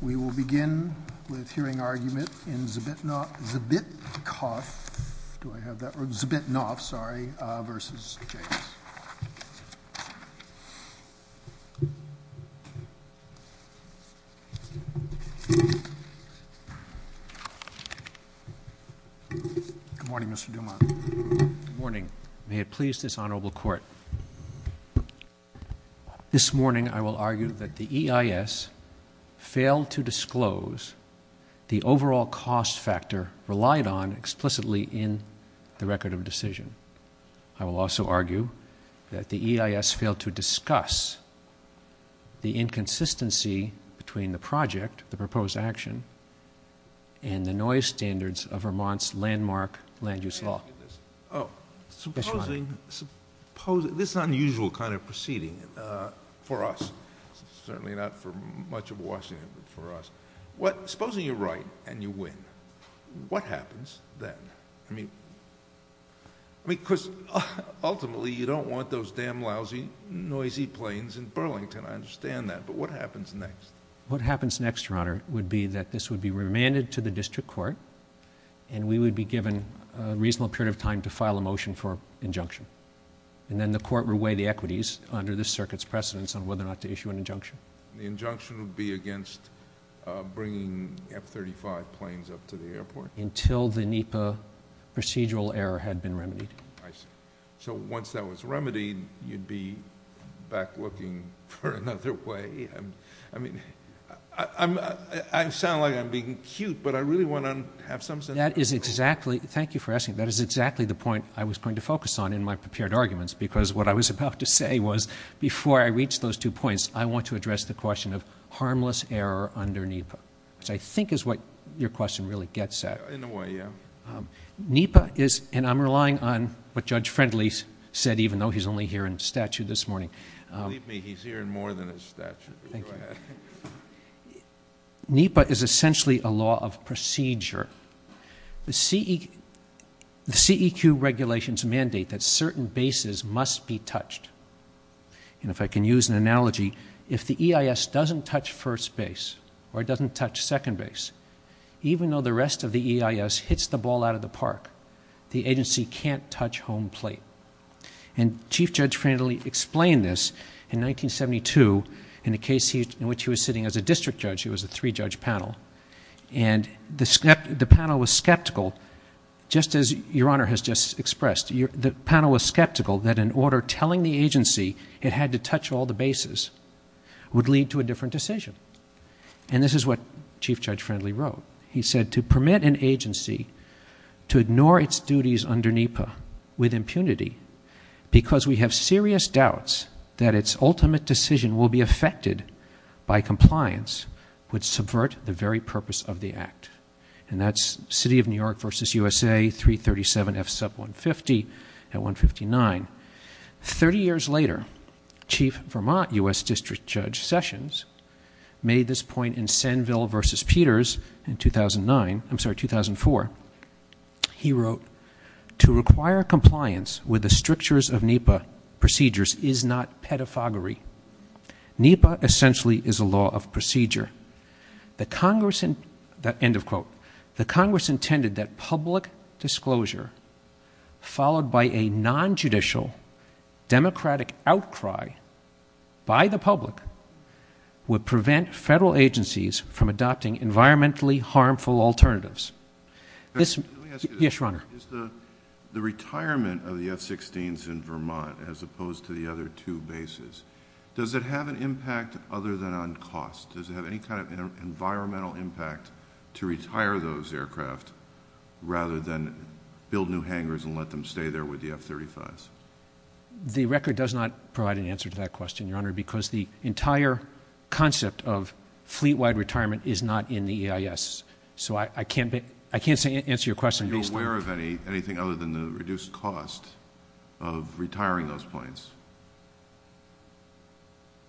We will begin with hearing argument in Zbitnoff v. James Good morning Mr. Dumont Good morning. May it please this Honorable Court This morning I will argue that the EIS failed to disclose the overall cost factor relied on explicitly in the record of decision I will also argue that the EIS failed to discuss the inconsistency between the project, the proposed action, and the noise standards of Vermont's landmark land use law Supposing, this is an unusual kind of proceeding for us, certainly not for much of Washington, but for us Supposing you're right and you win, what happens then? Because ultimately you don't want those damn lousy, noisy planes in Burlington, I understand that, but what happens next? What happens next, Your Honor, would be that this would be remanded to the district court and we would be given a reasonable period of time to file a motion for injunction And then the court would weigh the equities under this circuit's precedence on whether or not to issue an injunction The injunction would be against bringing F-35 planes up to the airport? Until the NEPA procedural error had been remedied So once that was remedied, you'd be back looking for another way? I sound like I'm being cute, but I really want to have some sense of Thank you for asking, that is exactly the point I was going to focus on in my prepared arguments Because what I was about to say was, before I reach those two points, I want to address the question of harmless error under NEPA Which I think is what your question really gets at In a way, yeah NEPA is, and I'm relying on what Judge Friendly said, even though he's only here in statute this morning Believe me, he's here in more than his statute Thank you NEPA is essentially a law of procedure The CEQ regulations mandate that certain bases must be touched And if I can use an analogy, if the EIS doesn't touch first base, or it doesn't touch second base Even though the rest of the EIS hits the ball out of the park The agency can't touch home plate And Chief Judge Friendly explained this in 1972 In a case in which he was sitting as a district judge, he was a three-judge panel And the panel was skeptical, just as your Honor has just expressed The panel was skeptical that an order telling the agency it had to touch all the bases Would lead to a different decision And this is what Chief Judge Friendly wrote He said, to permit an agency to ignore its duties under NEPA with impunity Because we have serious doubts that its ultimate decision will be affected by compliance Would subvert the very purpose of the act And that's City of New York v. USA, 337 F. Sub. 150 at 159 Thirty years later, Chief Vermont U.S. District Judge Sessions Made this point in Senville v. Peters in 2009, I'm sorry, 2004 He wrote, to require compliance with the strictures of NEPA procedures is not pedophagy NEPA essentially is a law of procedure The Congress, end of quote, the Congress intended that public disclosure Followed by a non-judicial democratic outcry by the public Would prevent federal agencies from adopting environmentally harmful alternatives Yes, Your Honor The retirement of the F-16s in Vermont as opposed to the other two bases Does it have an impact other than on cost? Does it have any kind of environmental impact to retire those aircraft Rather than build new hangars and let them stay there with the F-35s? The record does not provide an answer to that question, Your Honor Because the entire concept of fleet-wide retirement is not in the EIS So I can't answer your question based on Does it have anything other than the reduced cost of retiring those planes?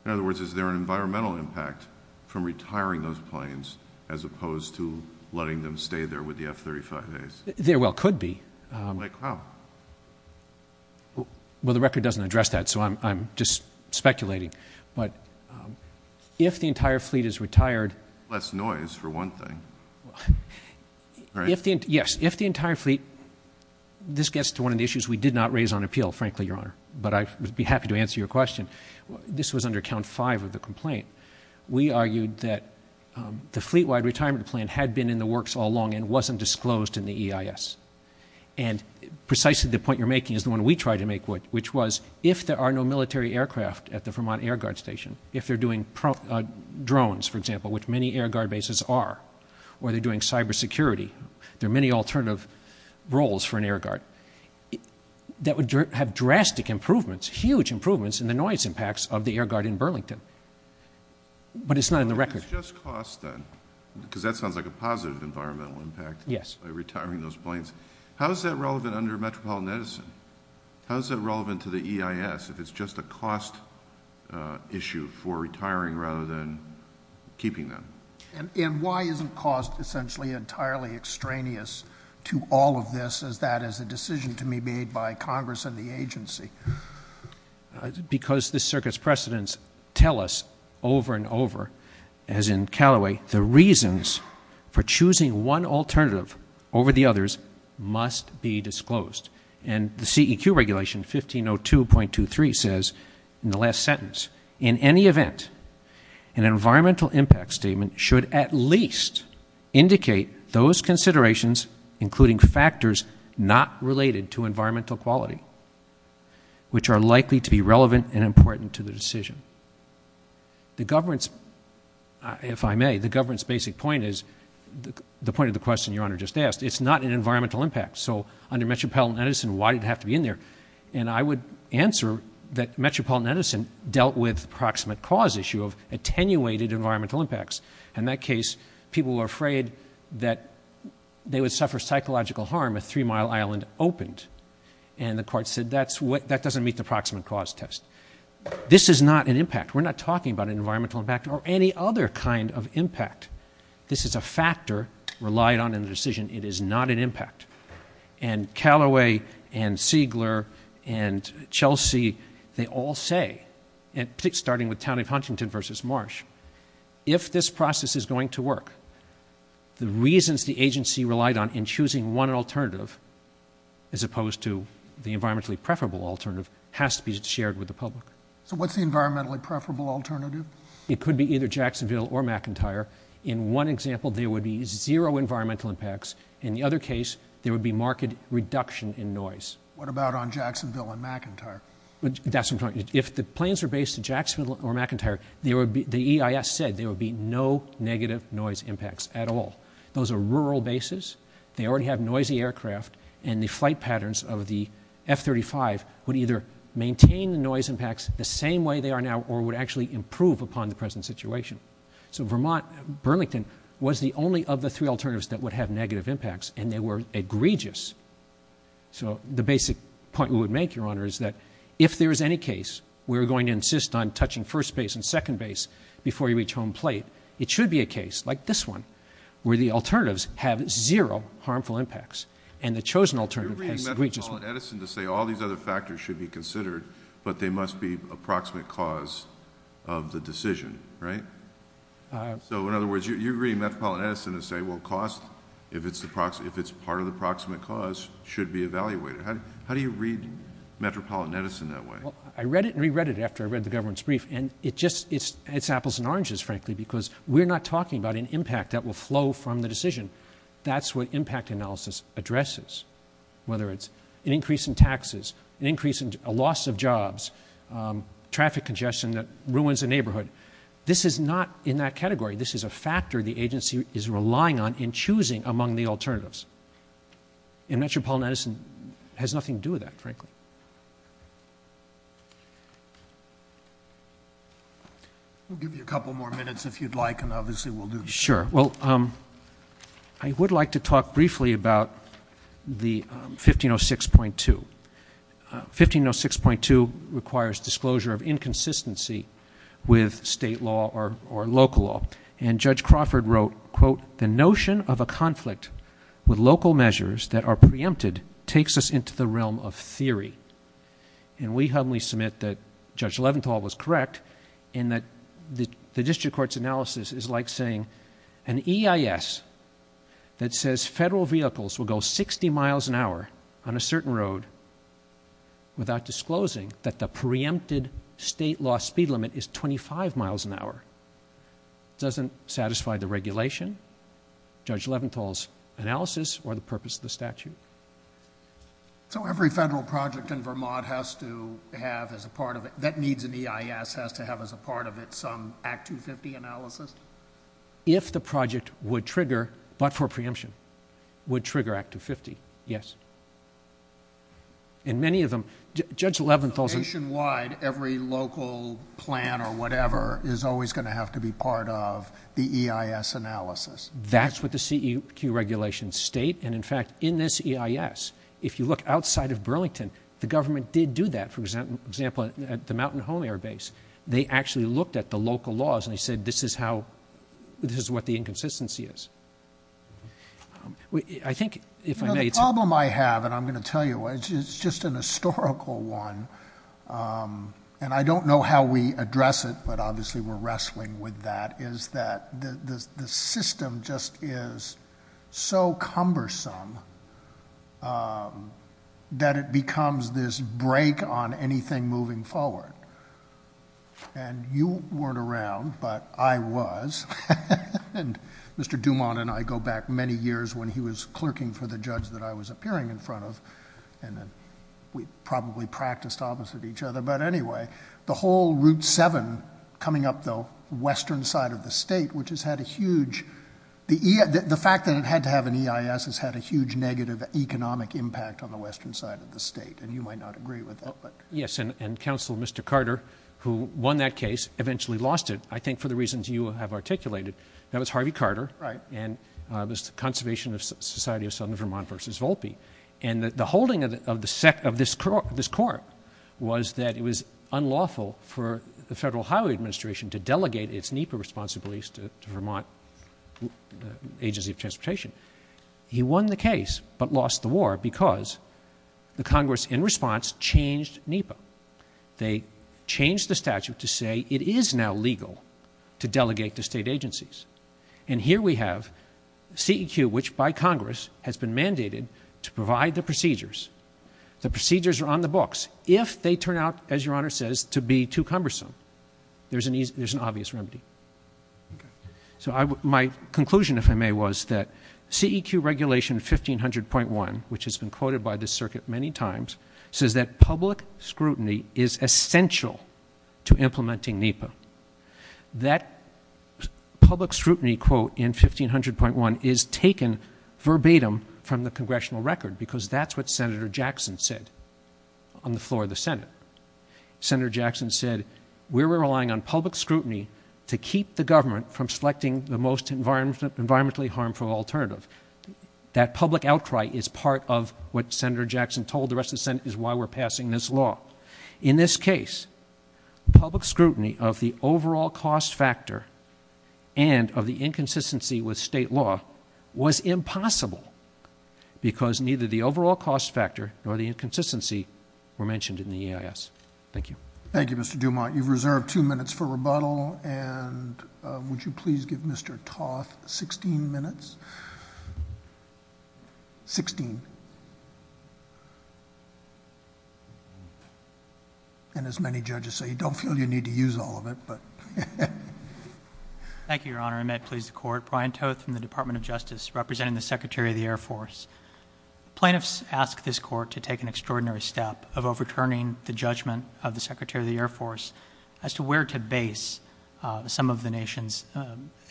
In other words, is there an environmental impact from retiring those planes As opposed to letting them stay there with the F-35s? There well could be Like how? Well, the record doesn't address that, so I'm just speculating But if the entire fleet is retired Less noise, for one thing Yes, if the entire fleet This gets to one of the issues we did not raise on appeal, frankly, Your Honor But I'd be happy to answer your question This was under count five of the complaint We argued that the fleet-wide retirement plan had been in the works all along And wasn't disclosed in the EIS And precisely the point you're making is the one we tried to make Which was if there are no military aircraft at the Vermont Air Guard Station If they're doing drones, for example, which many Air Guard bases are Or they're doing cyber security There are many alternative roles for an Air Guard That would have drastic improvements, huge improvements In the noise impacts of the Air Guard in Burlington But it's not in the record If it's just cost, then Because that sounds like a positive environmental impact By retiring those planes How is that relevant under Metropolitan Edison? How is that relevant to the EIS? If it's just a cost issue for retiring rather than keeping them? And why isn't cost essentially entirely extraneous to all of this As that is a decision to be made by Congress and the agency? Because the circuit's precedents tell us over and over As in Callaway, the reasons for choosing one alternative over the others Must be disclosed And the CEQ regulation 1502.23 says In the last sentence In any event An environmental impact statement should at least Indicate those considerations Including factors not related to environmental quality Which are likely to be relevant and important to the decision The government's If I may, the government's basic point is The point of the question your honor just asked It's not an environmental impact So under Metropolitan Edison, why did it have to be in there? And I would answer That Metropolitan Edison dealt with the proximate cause issue Of attenuated environmental impacts In that case, people were afraid that They would suffer psychological harm if Three Mile Island opened And the court said that doesn't meet the proximate cause test This is not an impact We're not talking about an environmental impact Or any other kind of impact This is a factor relied on in the decision It is not an impact And Calloway and Siegler and Chelsea They all say Starting with Town of Huntington versus Marsh If this process is going to work The reasons the agency relied on in choosing one alternative As opposed to the environmentally preferable alternative Has to be shared with the public So what's the environmentally preferable alternative? It could be either Jacksonville or McIntyre In one example, there would be zero environmental impacts In the other case, there would be marked reduction in noise What about on Jacksonville and McIntyre? That's what I'm talking about If the planes were based in Jacksonville or McIntyre The EIS said there would be no negative noise impacts at all Those are rural bases They already have noisy aircraft And the flight patterns of the F-35 Would either maintain the noise impacts The same way they are now Or would actually improve upon the present situation So Vermont, Burlington Was the only of the three alternatives that would have negative impacts And they were egregious So the basic point we would make, Your Honor Is that if there is any case Where we're going to insist on touching first base and second base Before you reach home plate It should be a case like this one Where the alternatives have zero harmful impacts And the chosen alternative has egregious You're bringing up Edison to say all these other factors should be considered But they must be approximate cause of the decision, right? So in other words, you're bringing up Edison to say Well, cost, if it's part of the approximate cause Should be evaluated How do you read Metropolitan Edison that way? I read it and re-read it after I read the government's brief And it's apples and oranges, frankly Because we're not talking about an impact that will flow from the decision That's what impact analysis addresses Whether it's an increase in taxes An increase in loss of jobs Traffic congestion that ruins a neighborhood This is not in that category This is a factor the agency is relying on In choosing among the alternatives And Metropolitan Edison has nothing to do with that, frankly We'll give you a couple more minutes if you'd like And obviously we'll do that Sure, well, I would like to talk briefly about the 1506.2 1506.2 requires disclosure of inconsistency With state law or local law And Judge Crawford wrote The notion of a conflict with local measures that are preempted Takes us into the realm of theory And we humbly submit that Judge Leventhal was correct In that the district court's analysis is like saying An EIS that says federal vehicles will go 60 miles an hour On a certain road Without disclosing that the preempted state law speed limit is 25 miles an hour Doesn't satisfy the regulation Judge Leventhal's analysis or the purpose of the statute So every federal project in Vermont has to have as a part of it That needs an EIS has to have as a part of it some Act 250 analysis? If the project would trigger, but for preemption Would trigger Act 250, yes And many of them, Judge Leventhal Nationwide, every local plan or whatever Is always going to have to be part of the EIS analysis That's what the CEQ regulations state And in fact, in this EIS, if you look outside of Burlington The government did do that, for example, at the Mountain Home Air Base They actually looked at the local laws and they said This is how, this is what the inconsistency is I think, if I may The problem I have, and I'm going to tell you, it's just a historical one And I don't know how we address it, but obviously we're wrestling with that Is that the system just is so cumbersome That it becomes this break on anything moving forward And you weren't around, but I was And Mr. Dumont and I go back many years When he was clerking for the judge that I was appearing in front of And we probably practiced opposite each other But anyway, the whole Route 7 coming up the western side of the state Which has had a huge, the fact that it had to have an EIS Has had a huge negative economic impact on the western side of the state And you might not agree with that Yes, and Counselor Mr. Carter, who won that case, eventually lost it I think for the reasons you have articulated That was Harvey Carter, and it was the Conservation Society of Southern Vermont v. Volpe And the holding of this court was that it was unlawful For the Federal Highway Administration to delegate its NEPA responsibilities To Vermont Agency of Transportation He won the case, but lost the war because The Congress, in response, changed NEPA They changed the statute to say it is now legal To delegate to state agencies And here we have CEQ, which by Congress has been mandated To provide the procedures The procedures are on the books If they turn out, as Your Honor says, to be too cumbersome There's an obvious remedy So my conclusion, if I may, was that CEQ Regulation 1500.1, which has been quoted by this circuit many times Says that public scrutiny is essential to implementing NEPA That public scrutiny, quote, in 1500.1 Is taken verbatim from the Congressional record Because that's what Senator Jackson said On the floor of the Senate Senator Jackson said, we're relying on public scrutiny To keep the government from selecting the most environmentally harmful alternative That public outcry is part of what Senator Jackson told the rest of the Senate Is why we're passing this law In this case, public scrutiny of the overall cost factor And of the inconsistency with state law Was impossible Because neither the overall cost factor Nor the inconsistency were mentioned in the EIS Thank you Thank you, Mr. Dumont You've reserved two minutes for rebuttal And would you please give Mr. Toth 16 minutes 16 And as many judges say, you don't feel you need to use all of it, but Thank you, Your Honor And may it please the Court Brian Toth from the Department of Justice Representing the Secretary of the Air Force Plaintiffs ask this Court to take an extraordinary step Of overturning the judgment of the Secretary of the Air Force As to where to base some of the nation's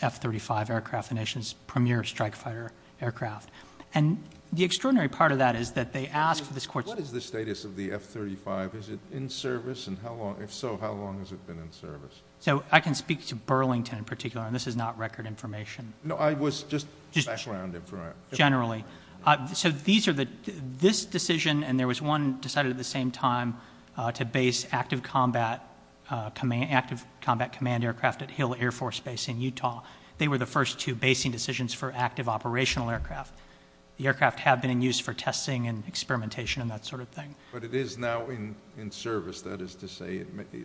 F-35 aircraft The nation's premier strike fighter aircraft And the extraordinary part of that is that they ask for this Court What is the status of the F-35? Is it in service? And if so, how long has it been in service? So I can speak to Burlington in particular And this is not record information No, I was just background information Generally So these are the This decision And there was one decided at the same time To base active combat Active combat command aircraft At Hill Air Force Base in Utah They were the first two basing decisions For active operational aircraft The aircraft have been in use for testing And experimentation and that sort of thing But it is now in service That is to say it may be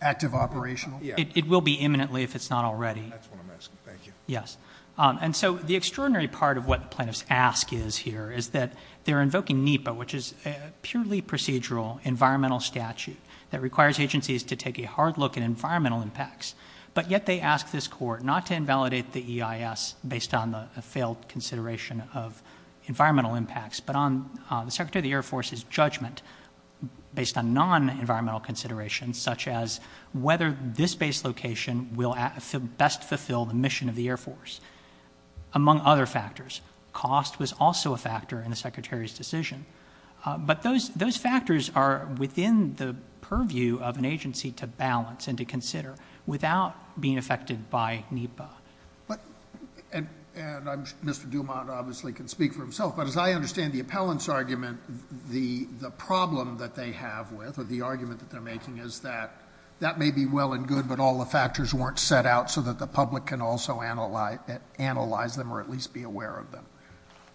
Active operational? Yeah It will be imminently if it's not already That's what I'm asking, thank you Yes And so the extraordinary part of what plaintiffs ask is here Is that they're invoking NEPA Which is a purely procedural environmental statute That requires agencies to take a hard look At environmental impacts But yet they ask this Court not to invalidate the EIS Based on the failed consideration of environmental impacts But on the Secretary of the Air Force's judgment Based on non-environmental considerations Such as whether this base location Will best fulfill the mission of the Air Force Among other factors Cost was also a factor in the Secretary's decision But those factors are within the purview of an agency To balance and to consider Without being affected by NEPA But And Mr. Dumont obviously can speak for himself But as I understand the appellant's argument The problem that they have with Or the argument that they're making is that That may be well and good But all the factors weren't set out So that the public can also analyze them Or at least be aware of them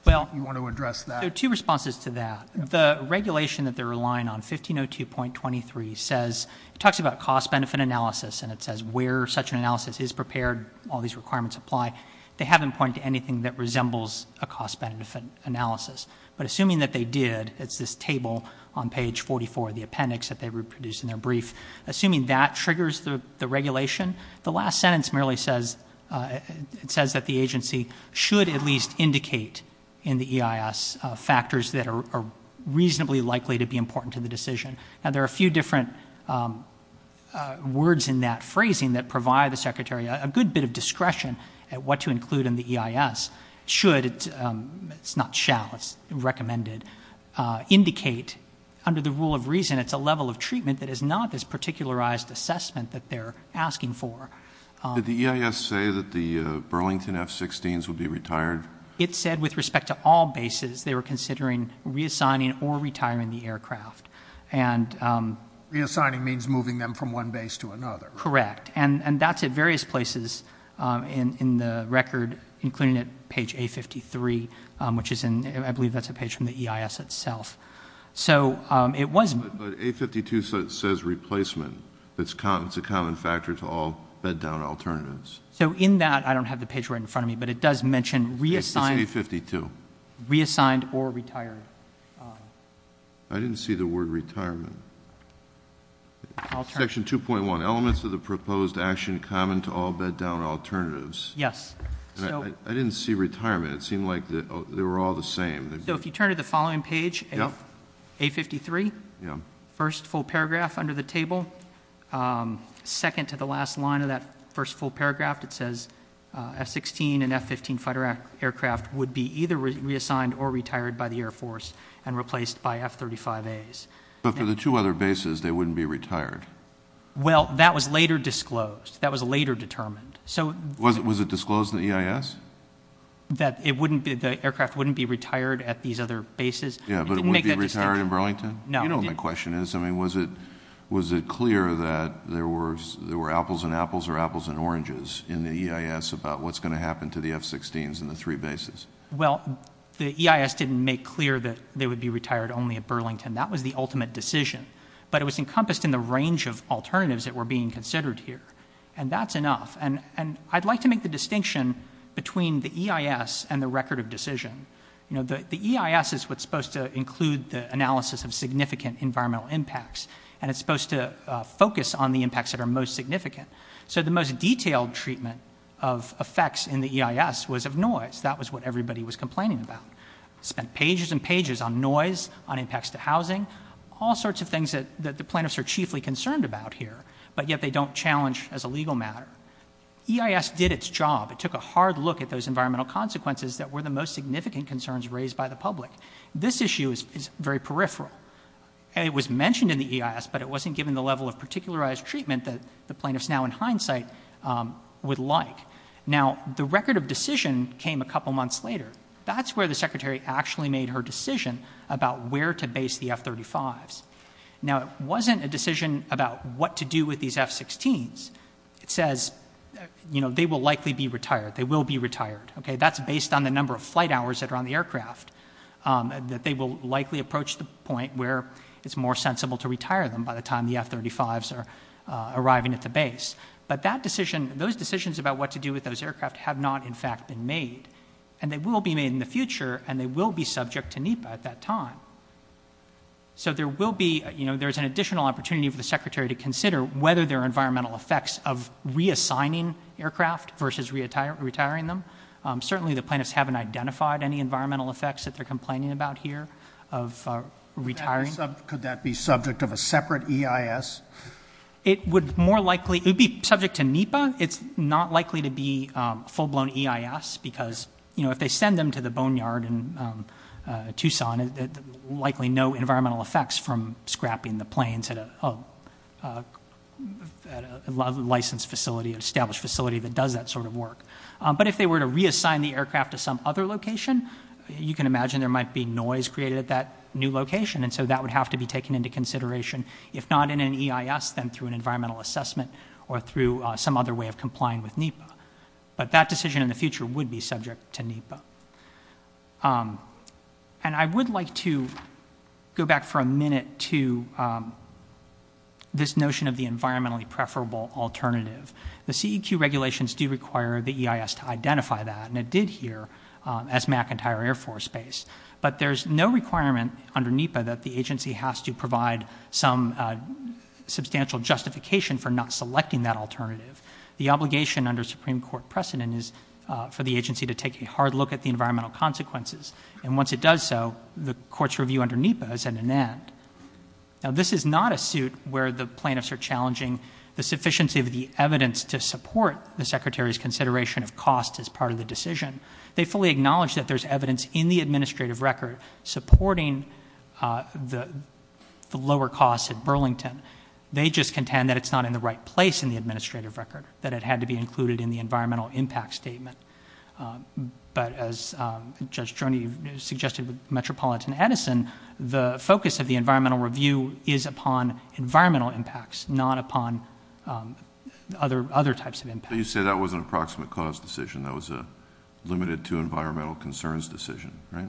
Well You want to address that? There are two responses to that The regulation that they're relying on 1502.23 says It talks about cost-benefit analysis And it says where such an analysis is prepared All these requirements apply They haven't pointed to anything that resembles A cost-benefit analysis But assuming that they did It's this table on page 44 The appendix that they reproduced in their brief Assuming that triggers the regulation The last sentence merely says It says that the agency Should at least indicate In the EIS Factors that are reasonably likely To be important to the decision Now there are a few different Words in that phrasing That provide the Secretary A good bit of discretion At what to include in the EIS Should It's not shall It's recommended Indicate Under the rule of reason It's a level of treatment That is not this particularized assessment That they're asking for Did the EIS say that the Burlington F-16s would be retired? It said with respect to all bases They were considering reassigning Or retiring the aircraft And Reassigning means moving them From one base to another Correct And that's at various places In the record Including at page A-53 Which is in I believe that's a page From the EIS itself So it was But A-52 says replacement It's a common factor To all bed-down alternatives So in that I don't have the page right in front of me But it does mention Reassigned It's A-52 Reassigned or retired I didn't see the word retirement Section 2.1 Elements of the proposed action Common to all bed-down alternatives Yes I didn't see retirement It seemed like they were all the same So if you turn to the following page A-53 First full paragraph under the table Second to the last line of that First full paragraph It says F-16 and F-15 fighter aircraft Would be either reassigned Or retired by the Air Force And replaced by F-35As But for the two other bases They wouldn't be retired Well, that was later disclosed That was later determined So Was it disclosed in the EIS? That it wouldn't be The aircraft wouldn't be retired At these other bases Yeah, but it would be retired in Burlington? No You know what my question is I mean, was it Was it clear that There were There were apples and apples Or apples and oranges In the EIS About what's going to happen To the F-16s And the three bases Well The EIS didn't make clear That they would be retired Only at Burlington That was the ultimate decision But it was encompassed In the range of alternatives That were being considered here And that's enough And I'd like to make the distinction Between the EIS And the record of decision You know, the EIS Is what's supposed to include The analysis of significant Environmental impacts And it's supposed to focus On the impacts That are most significant So the most detailed treatment Of effects in the EIS Was of noise That was what everybody Was complaining about Spent pages and pages on noise On impacts to housing All sorts of things That the plaintiffs Are chiefly concerned about here But yet they don't challenge As a legal matter EIS did its job It took a hard look At those environmental consequences That were the most significant concerns Raised by the public This issue is very peripheral And it was mentioned in the EIS But it wasn't given the level Of particularized treatment That the plaintiffs Now in hindsight would like Now, the record of decision Came a couple months later That's where the secretary Actually made her decision About where to base the F-35s Now, it wasn't a decision About what to do with these F-16s It says, you know, They will likely be retired They will be retired Okay, that's based on The number of flight hours That are on the aircraft That they will likely approach The point where it's more sensible To retire them By the time the F-35s Are arriving at the base But that decision Those decisions about What to do with those aircraft Have not in fact been made And they will be made In the future And they will be subject To NEPA at that time So there will be You know, there's an additional Opportunity for the secretary To consider whether There are environmental effects Of reassigning aircraft Versus retiring them Certainly the plaintiffs Haven't identified Any environmental effects That they're complaining about here Of retiring Could that be subject Of a separate EIS? It would more likely It would be subject to NEPA It's not likely to be A full blown EIS Because, you know, If they send them to the Boneyard in Tucson There's likely no Environmental effects From scrapping the planes At a licensed facility Established facility That does that sort of work But if they were to Reassign the aircraft To some other location You can imagine There might be noise Created at that new location And so that would have to be Taken into consideration If not in an EIS Then through an Environmental assessment Or through some other way Of complying with NEPA But that decision In the future Would be subject to NEPA And I would like to Go back for a minute To this notion of The environmentally Preferable alternative The CEQ regulations Do require the EIS To identify that And it did here As McIntyre Air Force Base But there's no requirement Under NEPA That the agency has to Provide some Substantial justification For not selecting That alternative The obligation Under Supreme Court precedent Is for the agency To take a hard look At the environmental consequences And once it does so The court's review Under NEPA Is at an end Now this is not a suit Where the plaintiffs Are challenging The sufficiency Of the evidence To support The secretary's Consideration of cost As part of the decision They fully acknowledge That there's evidence In the administrative record Supporting The lower costs At Burlington They just contend That it's not in the right place In the administrative record That it had to be included In the environmental Impact statement But as Judge Joni Suggested with Metropolitan Edison The focus of the Environmental review Is upon environmental impacts Not upon Other types of impacts So you say that was An approximate cause decision That was a Limited to environmental Concerns decision Right?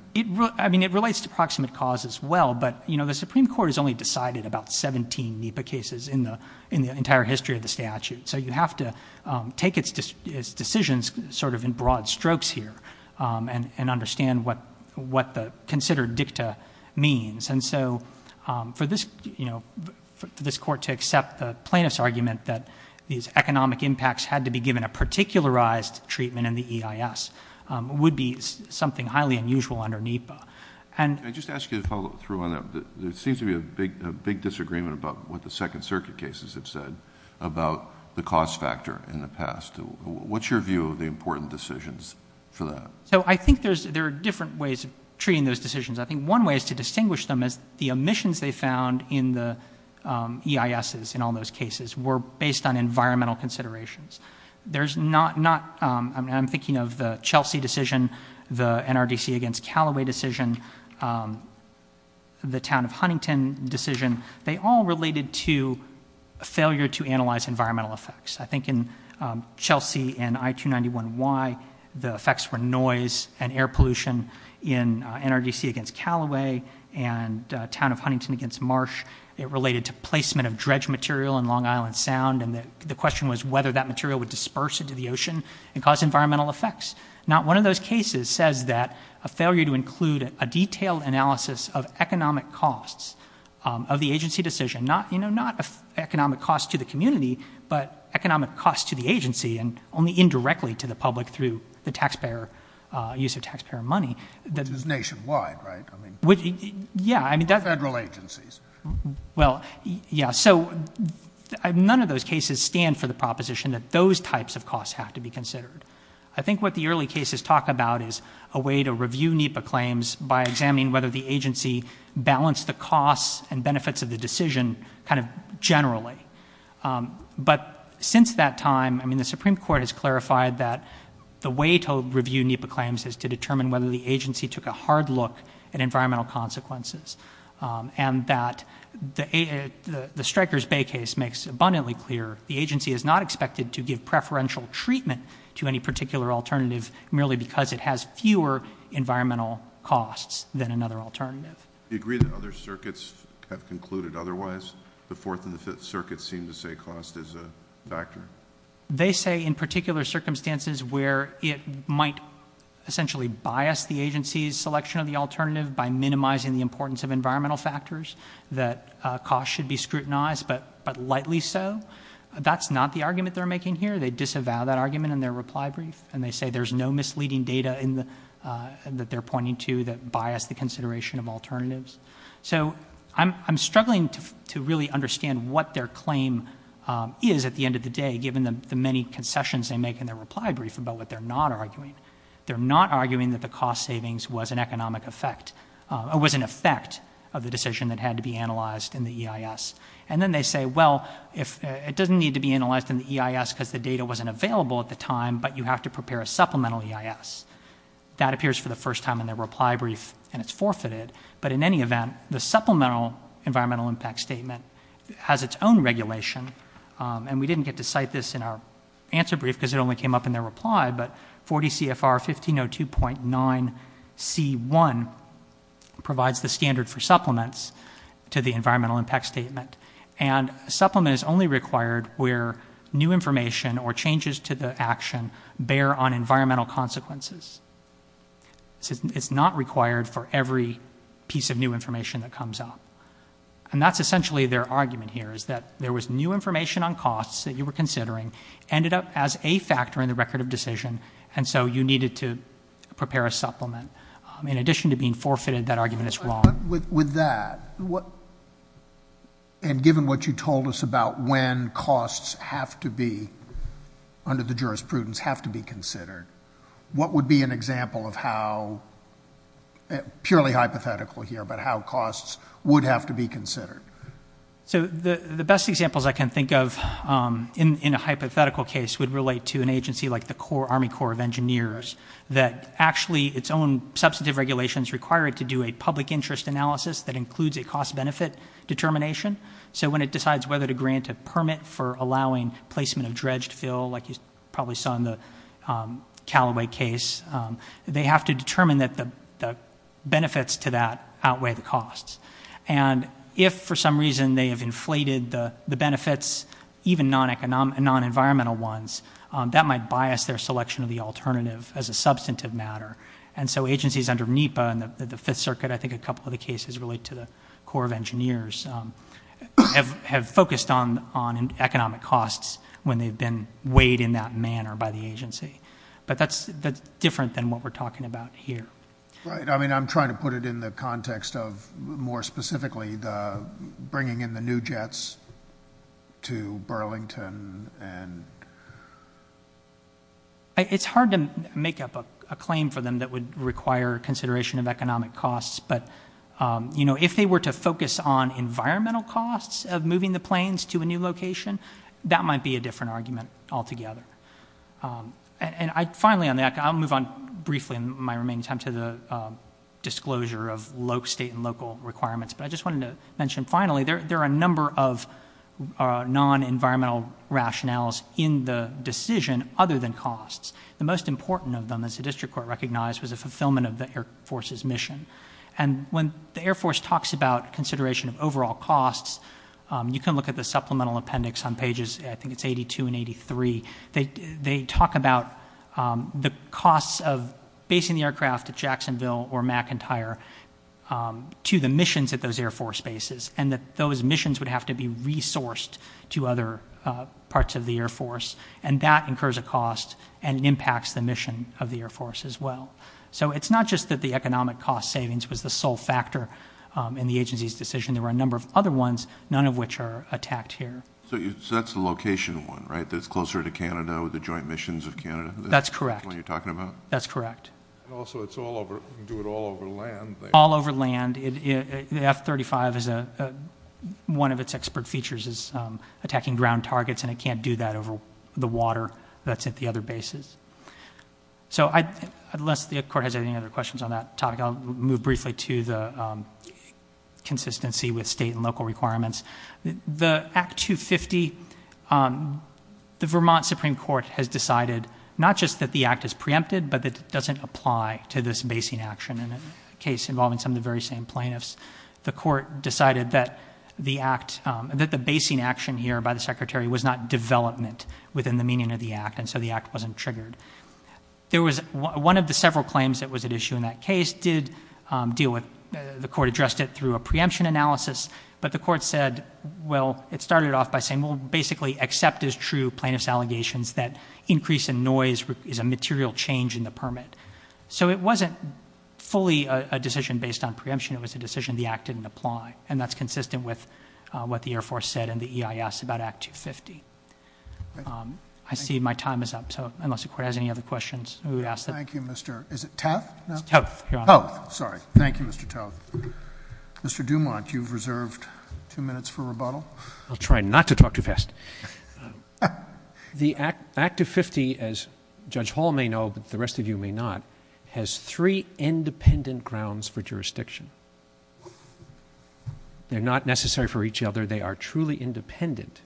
I mean it relates To approximate cause as well But you know The Supreme Court Has only decided About 17 NEPA cases In the entire history Of the statute So you have to Take its decisions Sort of in broad strokes here And understand What the considered Dicta means And so For this You know For this court To accept the Plaintiff's argument That these Economic impacts Had to be given A particularized Treatment in the EIS Would be something Highly unusual Under NEPA And Can I just ask you To follow through on that There seems to be A big disagreement About what the Second circuit cases Have said About the cost factor In the past What's your view Of the important decisions For that? So I think There's There are different ways Of treating those decisions I think one way Is to distinguish them As the emissions They found In the EISs In all those cases Were based on Environmental considerations There's not Not I'm thinking of The Chelsea decision The NRDC against Callaway decision The town of Huntington Decision They all related To Failure to analyze Environmental effects I think in Chelsea And I-291Y The effects were On noise And air pollution In NRDC Against Callaway And town of Huntington Against Marsh It related To placement Of dredge material In Long Island Sound And the question was Whether that material Would disperse Into the ocean And cause environmental Effects Not one of those cases Says that A failure to include A detailed analysis Of economic costs Of the agency decision Not, you know Not economic Cost to the community But economic Cost to the agency And only indirectly To the public Through the Taxpayer Use of taxpayer Money Which is Nationwide, right? Yeah Federal agencies Well, yeah So None of those Cases stand for The proposition That those types Of costs Have to be Considered I think what The early cases Talk about Is a way To review NEPA claims By examining Whether the agency Balanced the costs And benefits Of the decision Kind of generally But Since that time I mean The Supreme Court Has clarified That the way To review NEPA claims Is to determine Whether the agency Took a hard look At environmental Consequences And that The Stryker's Bay Case makes Abundantly clear The agency Is not expected To give preferential Treatment To any particular Alternative Merely because It has fewer Environmental costs Than another alternative Do you agree That other circuits Have concluded Otherwise The fourth And the fifth Circuits seem To say cost Is a factor They say In particular Circumstances Where it Might essentially Bias the agency's Selection of the Alternative By minimizing The importance Of environmental Factors That cost Should be scrutinized But lightly so That's not the argument They're making here They disavow that argument In their reply brief And they say There's no misleading Data that they're Providing I'm struggling To really understand What their claim Is at the end of the day Given the many Concessions they make In their reply brief About what they're not Arguing They're not arguing That the cost savings Was an economic effect Or was an effect Of the decision That had to be analyzed In the EIS And then they say Well, it doesn't need To be analyzed In the EIS Because the data Wasn't available at the time But you have to prepare A supplemental EIS That appears for the first Time in their reply brief And it's forfeited But in any event The supplemental Environmental impact Statement Has its own regulation And we didn't get To cite this In our answer brief Because it only came up In their reply But 40 CFR 1502.9C1 Provides the standard For supplements To the environmental Impact statement And a supplement It's not required For every piece Of new information That's in the EIS It's not required For every piece Of new information That's in the EIS It's not required For every piece Of new information That comes up And that's essentially Their argument here Is that there was New information On costs That you were considering Ended up as a factor In the record of decision And so you needed To prepare a supplement In addition to being Forfeited That argument is wrong With that And given What you told us About when costs Have to be Under the jurisprudence Have to be considered What would be an example Of how Purely hypothetical Here About how Costs Would have To be considered So the Best examples I can think of In a hypothetical Case would relate To an agency Like the Army Corps of Engineers That actually Its own Substantive regulations Require it to do A public interest Analysis that includes A cost benefit Determination So when it decides Whether to grant A permit For allowing Placement of Dredged fill Like you probably Saw in the Calloway case They have to Determine that The benefits To that Outweigh the costs And if For some reason They have Inflated the Benefits Even non Environmental ones That might Bias their Selection of the Alternative as a Substantive matter And so agencies Under NEPA And the Fifth circuit I think a Couple of the Cases relate To the Corps of Engineers Have focused On economic Costs when they've Been weighed In that Manner by the Agency. But that's Different than what We're talking About here. I'm trying to Put it in the Context of More specifically Bringing in The new jets To burlington And It's hard to Make up a Claim for them That would Require Consideration of Economic costs But if They were to Focus on Environmental costs Of moving the Planes to a New location That might Be a Different argument Altogether. And finally I'll move on Briefly in my Remaining time To the Disclosure of State and Local requirements But I just Wanted to Mention finally There are A number of Nonenvironmental Rationales in The decision Other than Costs. The most Important of Them was The fulfillment Of the Air force's Mission. And when the Air force talks About consideration Of overall Costs, you Can look at The supplemental Appendix on Pages 82 and 83. They talk about The costs of Basing the Aircraft at Jacksonville or Mcintyre to The missions at Those air force Bases and Those missions Would have to Be resourced to Other parts of The air force and That incurs a Cost and impacts The mission of The air force as Well. So it's not Just that the Economic cost Savings was the Sole factor in The agency's Decision. There were a Number of other Ones, none of Which are attacked Here. So that's the Location one, Right, that's Closer to Canada with The joint Missions of Canada? That's Correct. That's correct. And also It's all over, Do it all over Land. All over Land. And the F35 is a One of its Expert features Is attacking Ground targets And it can't Do that over The water that's At the other Bases. So unless the Court has any Other questions On that topic, I'll move Briefly to the Consistency with State and Local requirements. The act 250, The vermont Supreme court Has decided not Just that the Act is preempted But doesn't Apply to this Case. The Court decided That the Basing action Was not Development within The meaning of The act. So the Act wasn't Triggered. There was One of the Several claims That was at Issue in that Case did Deal with The court Addressed it Through a Preemption analysis But the Court said Well, it Started off By saying Basically Accept as True Plaintiff's Allegations that Increase in Noise is a Material change In the Permit. So it Wasn't fully A decision Based on Preemption. It was a Decision the Act didn't Apply. And that's Consistent with What the Air force Said in The eis About act 250. I see my Time is up. So unless The court has Any other Questions. Thank you, Mr. Toth. Mr. Dumont, you Reserved two Minutes for Rebuttal. I'll try not To talk too Fast. The act of 50, as Judge hall May know, But the rest Of you may Not, has Three independent Grounds for Jurisdiction. They're not Necessary for Each other. They are Truly independent.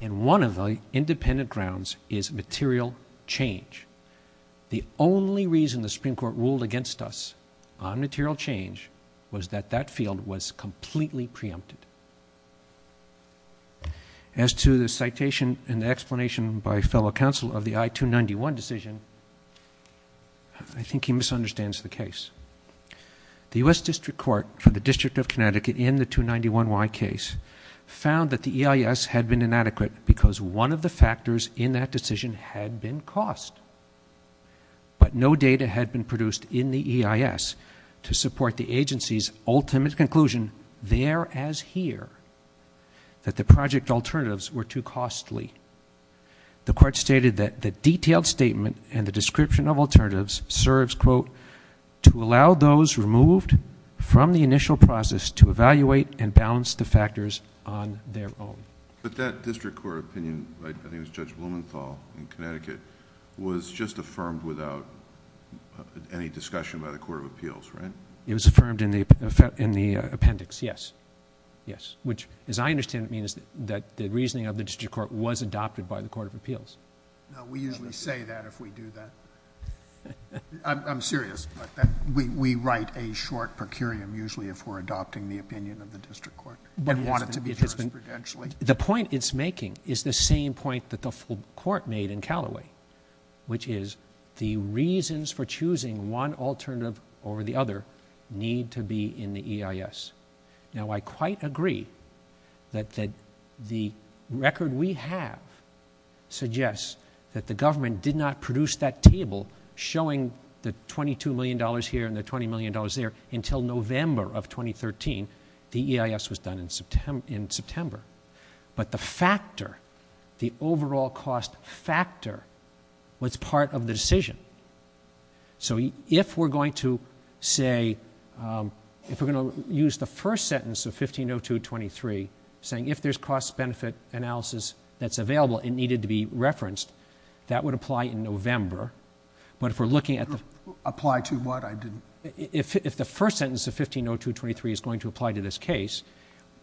And one Of the Independent Grounds is Material Change. The only Reason the Supreme court Ruled against Us on Material change Was that that Field was Completely Preempted. As to the Citation and Explanation by Fellow counsel Of the I-291 Decision, I think he Misunderstands the Case. The U.S. District court For the E-I-S Had been Inadequate because One of the Factors in That decision Had been Cost. But no Data had Been produced In the E-I-S To support The agency's Ultimate conclusion There as Here, that The project Alternatives were Too costly. The court Stated that the Detailed statement And the Description of Alternatives Serves, quote, To allow Those removed From the Initial process To evaluate and Balance the Factors on Their own. But that District court Opinion, I Think it was Judge Blumenthal In Connecticut, Was just Affirmed without Any discussion By the court Of appeals, Right? It was Affirmed in The appendix, Yes. Yes. Which, as I Understand it means That the Reasoning of the District court Was adopted By the Court of Appeals. No, we Usually say that If we do that. I'm serious. We write a Short per curiam Usually if we're Adopting the Opinion of the District court. The point it's Making is the Same point that The full court Made in Calloway, Which is the Reasons for Choosing one Alternative over The other need To be in The E-I-S. Now, I Quite agree That the Record we Have suggests That the Government did Not produce that Table showing The $22 million Here and the $20 million There until November of 2013. The E-I-S was Done in September. But the Factor, the Overall cost Factor was Part of the Decision. So if We're going To say If we're Going to Use the First sentence Of 15-02-23 Saying if There's cost Benefit analysis That's available It needed to Be referenced, That would Apply in November. But if We're looking At the If the First sentence Of 15-02-23 Is going to Apply to This case,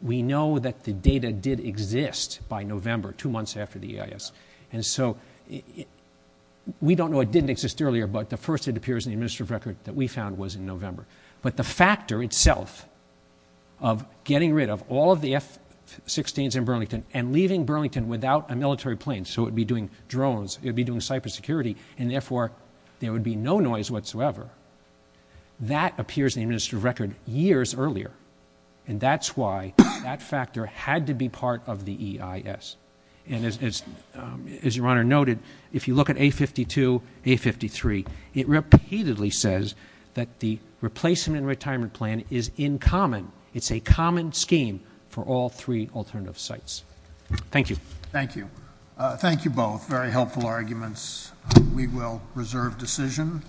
We know That the Data did Exist by November, Two months After the E-I-S. So we Know that Getting rid Of all Of the F-16s In Burlington And leaving Burlington Without a Military plane So it Would be Doing drones And Cybersecurity And Therefore There would Be no Noise Whatsoever. That Appears in The Administrative Record Years Earlier. And That's why That factor Had to be Part of The E-I-S. And as Your Honor Noted, If you Look at A-52, A-53, It Repeatedly Says That the Replacement And Retirement Plan Is In Common. It's A common Scheme For all Three Alternative Sites. Thank you. Thank you. Thank you both. Very helpful Arguments. We will Reserve Decision.